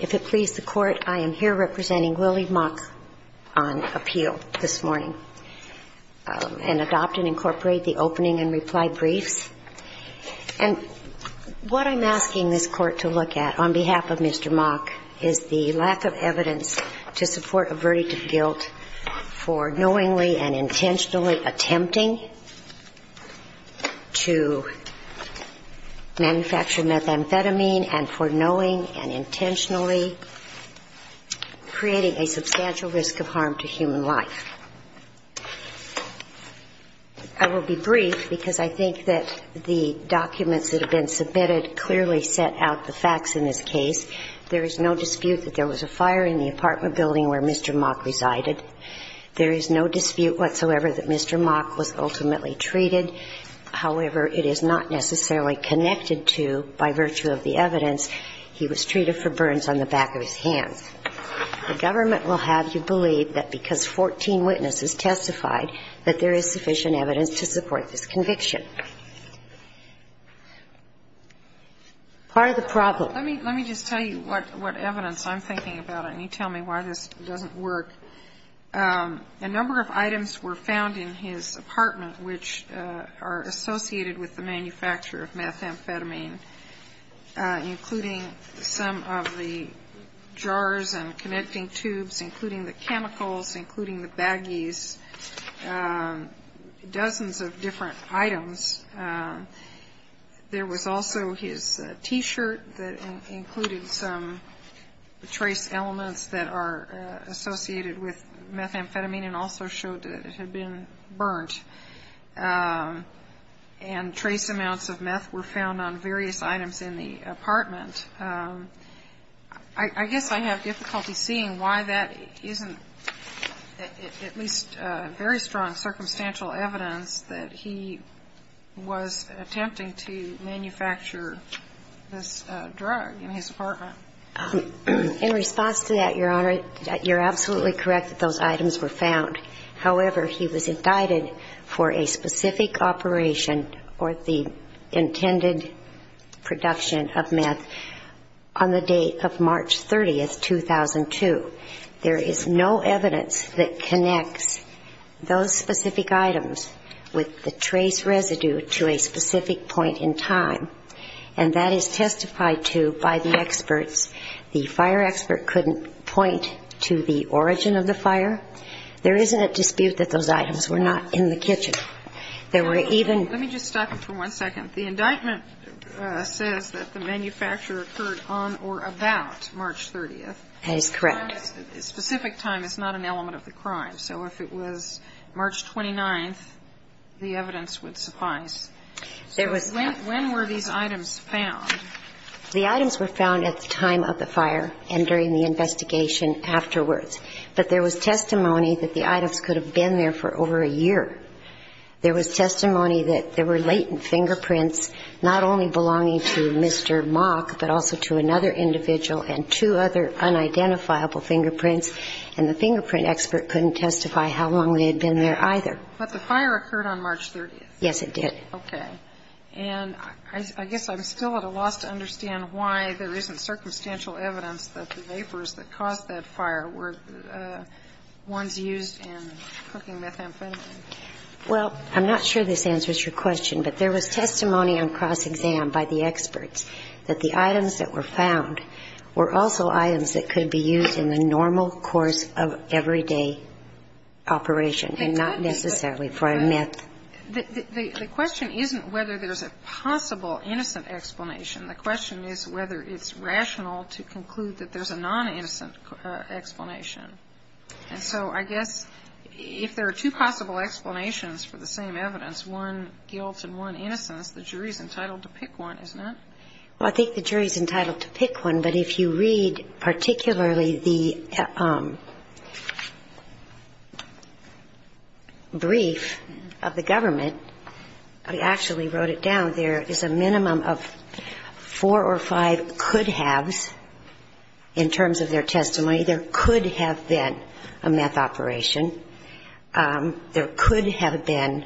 If it pleases the Court, I am here representing Willie Mock on appeal this morning and adopt and incorporate the opening and reply briefs. And what I'm asking this Court to look at, on behalf of Mr. Mock, is the lack of evidence to support a verdict of guilt for knowingly and intentionally attempting to manufacture methamphetamine and for knowing and intentionally creating a substantial risk of harm to human life. I will be brief because I think that the documents that have been submitted clearly set out the facts in this case. There is no dispute that there was a fire in the apartment building where Mr. Mock resided. There is no dispute whatsoever that Mr. Mock was ultimately treated. However, it is not necessarily connected to, by virtue of the evidence, he was treated for burns on the back of his hand. The government will have you believe that because 14 witnesses testified that there is sufficient evidence to support this conviction. Part of the problem ---- Sotomayor Let me just tell you what evidence I'm thinking about, and you tell me why this doesn't work. A number of items were found in his apartment which are associated with the manufacture of methamphetamine, including some of the jars and connecting tubes, including the chemicals, including the baggies, dozens of different items. There was also his T-shirt that included some trace elements that are associated with methamphetamine and also showed that it had been burnt. And trace amounts of meth were found on various items in the apartment. I guess I have difficulty seeing why that isn't at least very strong circumstantial evidence that he was attempting to manufacture this drug in his apartment. In response to that, Your Honor, you're absolutely correct that those items were found. However, he was indicted for a specific operation or the intended production of meth on the date of March 30, 2002. There is no evidence that connects those specific items with the trace residue to a specific point in time. And that is testified to by the experts. The fire expert couldn't point to the origin of the fire. There is a dispute that those items were not in the kitchen. There were even ---- Let me just stop you for one second. The indictment says that the manufacture occurred on or about March 30th. That is correct. The specific time is not an element of the crime. So if it was March 29th, the evidence would suffice. There was not. When were these items found? The items were found at the time of the fire and during the investigation afterwards. But there was testimony that the items could have been there for over a year. There was testimony that there were latent fingerprints not only belonging to Mr. Mock, but also to another individual and two other unidentifiable fingerprints. And the fingerprint expert couldn't testify how long they had been there either. But the fire occurred on March 30th. Yes, it did. Okay. And I guess I'm still at a loss to understand why there isn't circumstantial evidence that the vapors that caused that fire were ones used in cooking methamphetamine. Well, I'm not sure this answers your question. But there was testimony on cross-exam by the experts that the items that were found were also items that could be used in the normal course of everyday operation and not necessarily for a meth. The question isn't whether there's a possible innocent explanation. The question is whether it's rational to conclude that there's a non-innocent explanation. And so I guess if there are two possible explanations for the same evidence, one guilt and one innocence, the jury's entitled to pick one, isn't it? Well, I think the jury's entitled to pick one. But if you read particularly the brief of the government, I actually wrote it down. There is a minimum of four or five could-haves in terms of their testimony. There could have been a meth operation. There could have been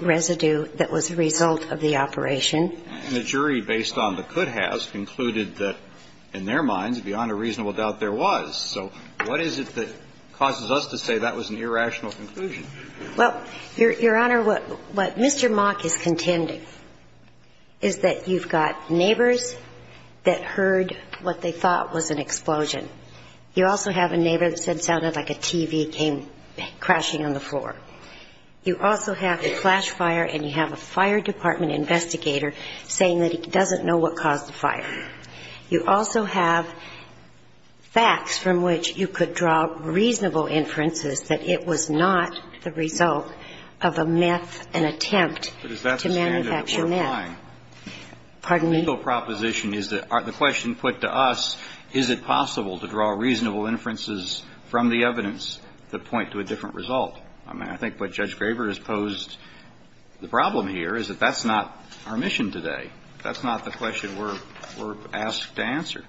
residue that was a result of the operation. And the jury, based on the could-haves, concluded that, in their minds, beyond a reasonable doubt, there was. So what is it that causes us to say that was an irrational conclusion? Well, Your Honor, what Mr. Mock is contending is that you've got neighbors that heard what they thought was an explosion. You also have a neighbor that said it sounded like a TV came crashing on the floor. You also have a flash fire and you have a fire department investigator saying that he doesn't know what caused the fire. You also have facts from which you could draw reasonable inferences that it was not the result of a meth, an attempt to manufacture meth. But is that the standard that we're applying? Pardon me? inferences that point to a different result. And the single proposition is that the question put to us, is it possible to draw reasonable inferences from the evidence that point to a different result? I mean, I think what Judge Graber has posed the problem here is that that's not our mission today. That's not the question we're asked to answer.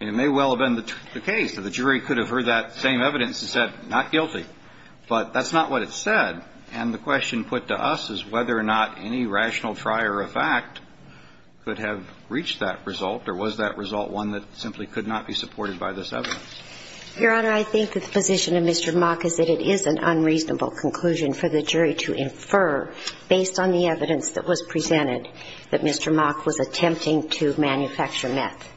And it may well have been the case that the jury could have heard that same evidence and said, not guilty. But that's not what it said. And the question put to us is whether or not any rational trier of fact could have reached that result, or was that result one that simply could not be supported by this evidence? Your Honor, I think that the position of Mr. Mock is that it is an unreasonable conclusion for the jury to infer, based on the evidence that was presented, that Mr. Mock was attempting to manufacture meth.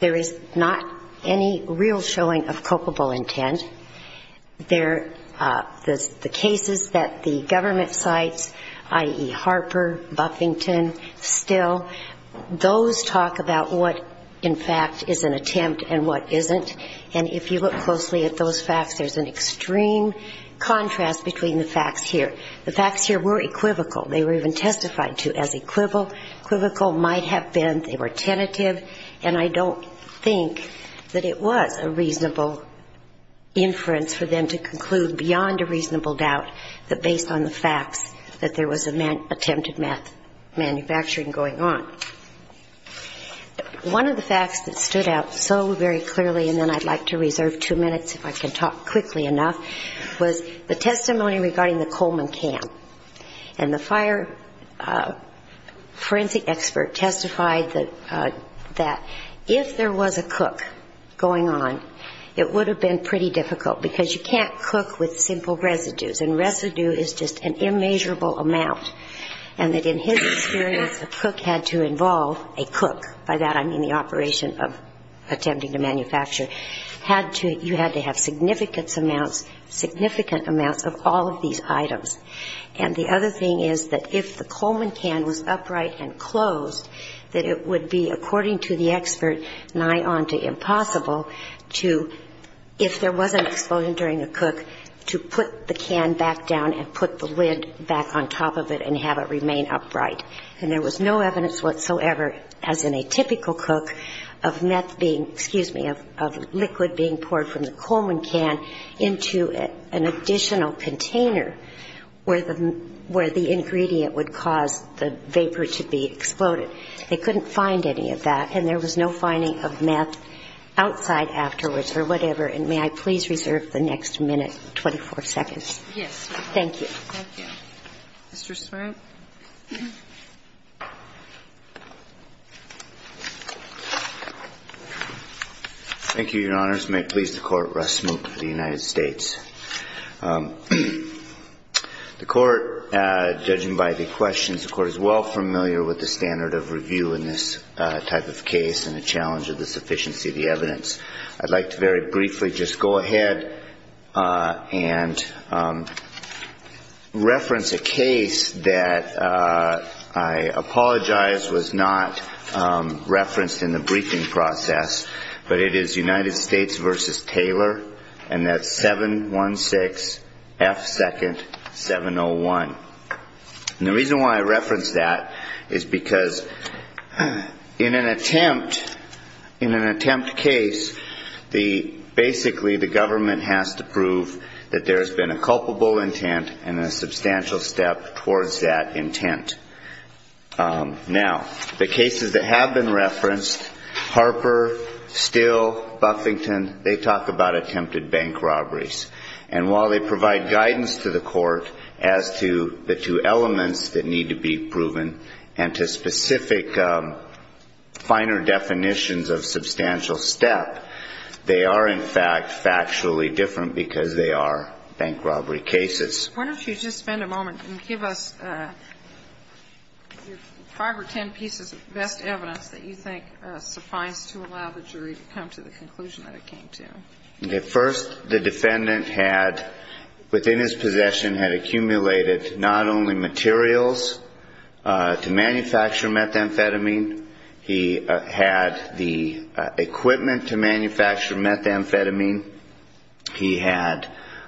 There is not any real showing of culpable intent. The cases that the government cites, i.e., Harper, Buffington, Still, those talk about what, in fact, is an attempt and what isn't. And if you look closely at those facts, there's an extreme contrast between the facts here. The facts here were equivocal. They were even testified to as equivocal, might have been. They were tentative. And I don't think that it was a reasonable inference for them to conclude, beyond a reasonable doubt, that based on the facts that there was attempted meth manufacturing going on. One of the facts that stood out so very clearly, and then I'd like to reserve two minutes if I can talk quickly enough, was the testimony regarding the Coleman camp. And the fire forensic expert testified that if there was a cook going on, it would have been pretty difficult, because you can't cook with simple residues, and residue is just an immeasurable amount, and that in his experience, a cook had to involve a cook. By that, I mean the operation of attempting to manufacture. Had to, you had to have significant amounts, significant amounts of all of these items. And the other thing is that if the Coleman can was upright and closed, that it would be, according to the expert, nigh on to impossible to, if there was an explosion during a cook, to put the can back down and put the lid back on top of it and have it remain upright. And there was no evidence whatsoever, as in a typical cook, of meth being, excuse me, of liquid being poured from the Coleman can into an additional container where the ingredient would cause the vapor to be exploded. They couldn't find any of that, and there was no finding of meth outside afterwards or whatever. And may I please reserve the next minute, 24 seconds? Yes, Your Honor. Thank you. Thank you. Mr. Smart? Thank you, Your Honors. May it please the Court, Russ Smoot of the United States. The Court, judging by the questions, the Court is well familiar with the standard of review in this type of case and the challenge of the sufficiency of the evidence. I'd like to very briefly just go ahead and reference a case that I apologize was not referenced in the briefing process, but it is United States v. Taylor, and that's 716F2-701. And the reason why I reference that is because in an attempt, in an attempt case to prove that there's been a culpable intent and a substantial step towards that intent. Now, the cases that have been referenced, Harper, Steele, Buffington, they talk about attempted bank robberies. And while they provide guidance to the Court as to the two elements that need to be proven and to specific finer definitions of substantial step, they are, in fact, factually different because they are bank robbery cases. Why don't you just spend a moment and give us five or ten pieces of best evidence that you think suffice to allow the jury to come to the conclusion that it came to? First, the defendant had, within his possession, had accumulated not only materials to manufacture methamphetamine, he had the equipment to manufacture methamphetamine, he had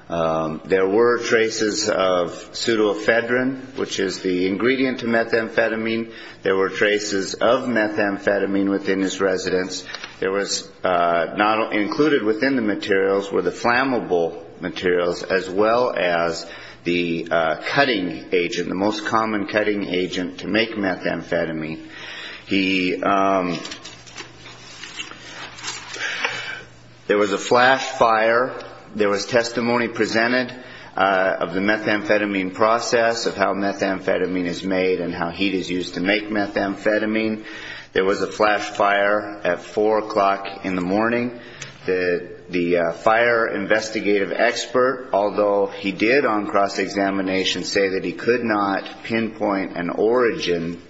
there were traces of pseudoephedrine, which is the ingredient to methamphetamine. There were traces of methamphetamine within his residence. There was not only included within the materials were the flammable materials, as well as the cutting agent, the most common cutting agent to make methamphetamine. There was a flash fire. There was testimony presented of the methamphetamine process, of how methamphetamine is made and how heat is used to make methamphetamine. There was a flash fire at 4 o'clock in the morning. The fire investigative expert, although he did on cross-examination say that he could not pinpoint an origin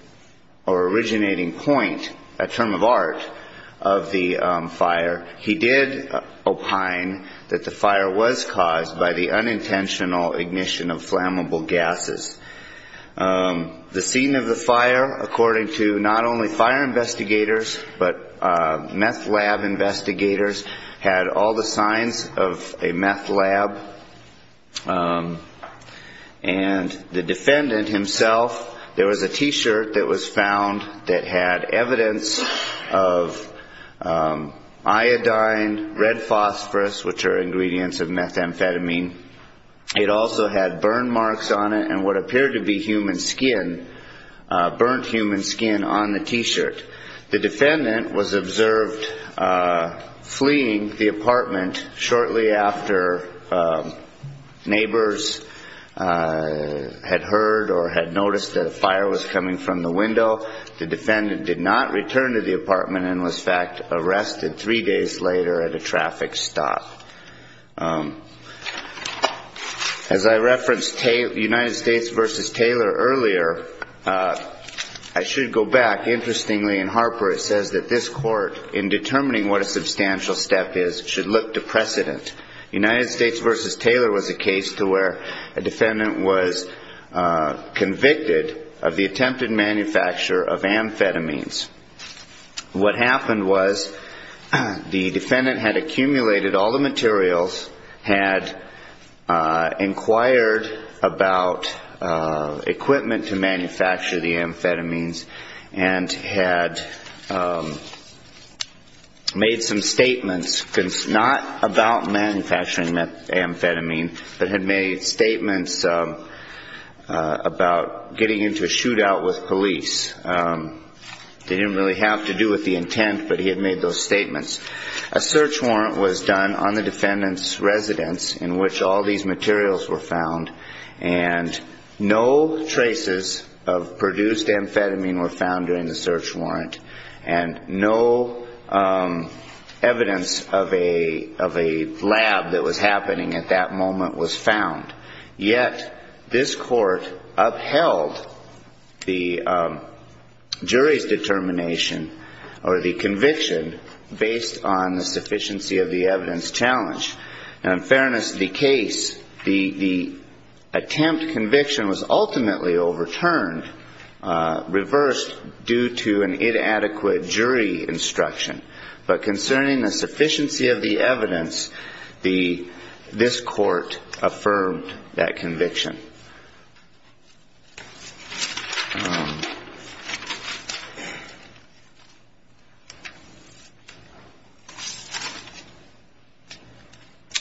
or originating point, a term of art, of the fire, he did opine that the fire was caused by the unintentional ignition of flammable gases. The scene of the fire, according to not only fire investigators, but meth lab investigators and investigators, had all the signs of a meth lab. And the defendant himself, there was a T-shirt that was found that had evidence of iodine, red phosphorus, which are ingredients of methamphetamine. It also had burn marks on it and what appeared to be human skin, burnt human skin on the T-shirt. The defendant was observed fleeing the apartment shortly after neighbors had heard or had noticed that a fire was coming from the window. The defendant did not return to the apartment and was, in fact, arrested three days later at a traffic stop. As I referenced United States v. Taylor earlier, I should go back. Interestingly, in Harper it says that this court, in determining what a substantial step is, should look to precedent. United States v. Taylor was a case to where a defendant was convicted of the attempted manufacture of amphetamines. What happened was the defendant had accumulated all the materials, had inquired about equipment to manufacture amphetamine, and had made some statements, not about manufacturing amphetamine, but had made statements about getting into a shootout with police. It didn't really have to do with the intent, but he had made those statements. A search warrant was done on the defendant's residence in which all these materials were found, and no traces of a search warrant and no evidence of a lab that was happening at that moment was found. Yet this court upheld the jury's determination or the conviction based on the sufficiency of the evidence challenged. And in fairness to the case, the attempt at conviction was ultimately overturned, reversed due to an inadequate jury instruction. But concerning the sufficiency of the evidence, this court affirmed that conviction. Thank you.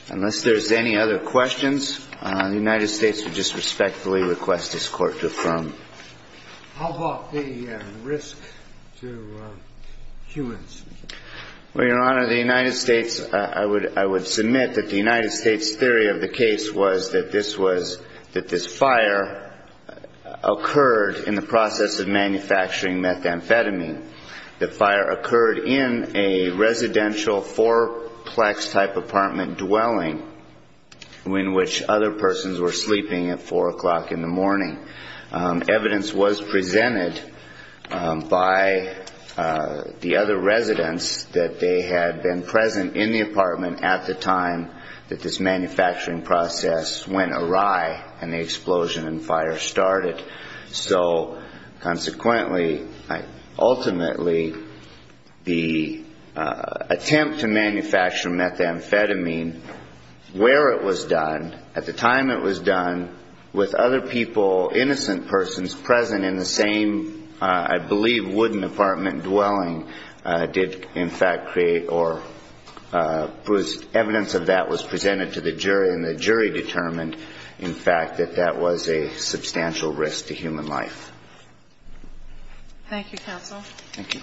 Unless there's any other questions, the United States would just respectfully request this court to affirm. How about the risk to humans? Well, Your Honor, the United States, I would submit that the United States theory of the case was that this was, that the fire occurred in the process of manufacturing methamphetamine. The fire occurred in a residential four-plex type apartment dwelling in which other persons were sleeping at 4 o'clock in the morning. Evidence was presented by the other residents that they had been present in the apartment at the time that this manufacturing process went awry, and they've still not been able to determine when the explosion and fire started. So consequently, ultimately, the attempt to manufacture methamphetamine, where it was done, at the time it was done, with other people, innocent persons present in the same, I believe, wooden apartment dwelling, did in fact create, or evidence of that was presented to the jury, and the jury determined, in fact, that that was not the case. That was a substantial risk to human life. Thank you, counsel. Thank you.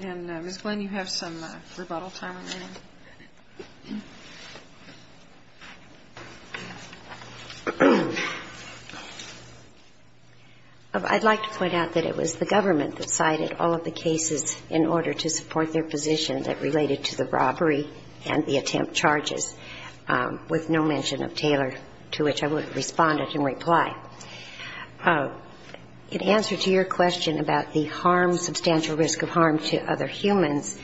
And, Ms. Glenn, you have some rebuttal time remaining. I'd like to point out that it was the government that cited all of the cases in order to support their position that related to the robbery and the attempt charges, with no mention of Taylor, to which I would have responded in reply. In answer to your question about the harm, substantial risk of harm to other humans,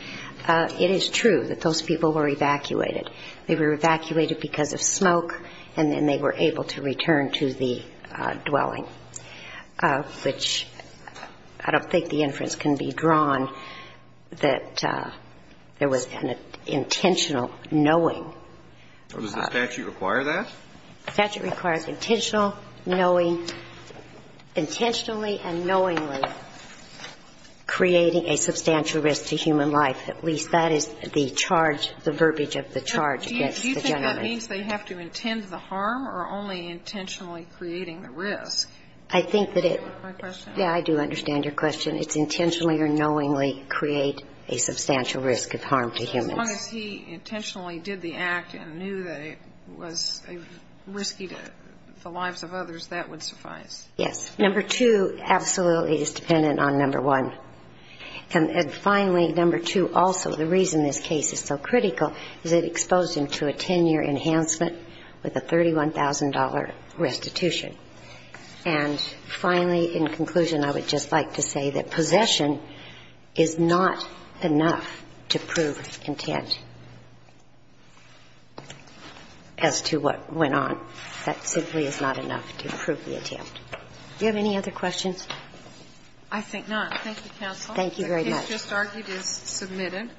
it is true that those people were evacuated. They were evacuated because of smoke, and then they were able to return to the dwelling, which I don't think the judgment was drawn that there was an intentional knowing. Does the statute require that? The statute requires intentional knowing, intentionally and knowingly creating a substantial risk to human life. At least that is the charge, the verbiage of the charge against the gentleman. Do you think that means they have to intend the harm or only intentionally creating the risk? I think that it's my question. It's intentionally or knowingly create a substantial risk of harm to humans. As long as he intentionally did the act and knew that it was risky to the lives of others, that would suffice. Yes. Number two absolutely is dependent on number one. And finally, number two also, the reason this case is so critical is it exposed him to a 10-year enhancement with a $31,000 restitution. And finally, in conclusion, I would just like to say that possession is not enough to prove intent as to what went on. That simply is not enough to prove the attempt. Do you have any other questions? I think not. Thank you, counsel. Thank you very much. The case just argued is submitted.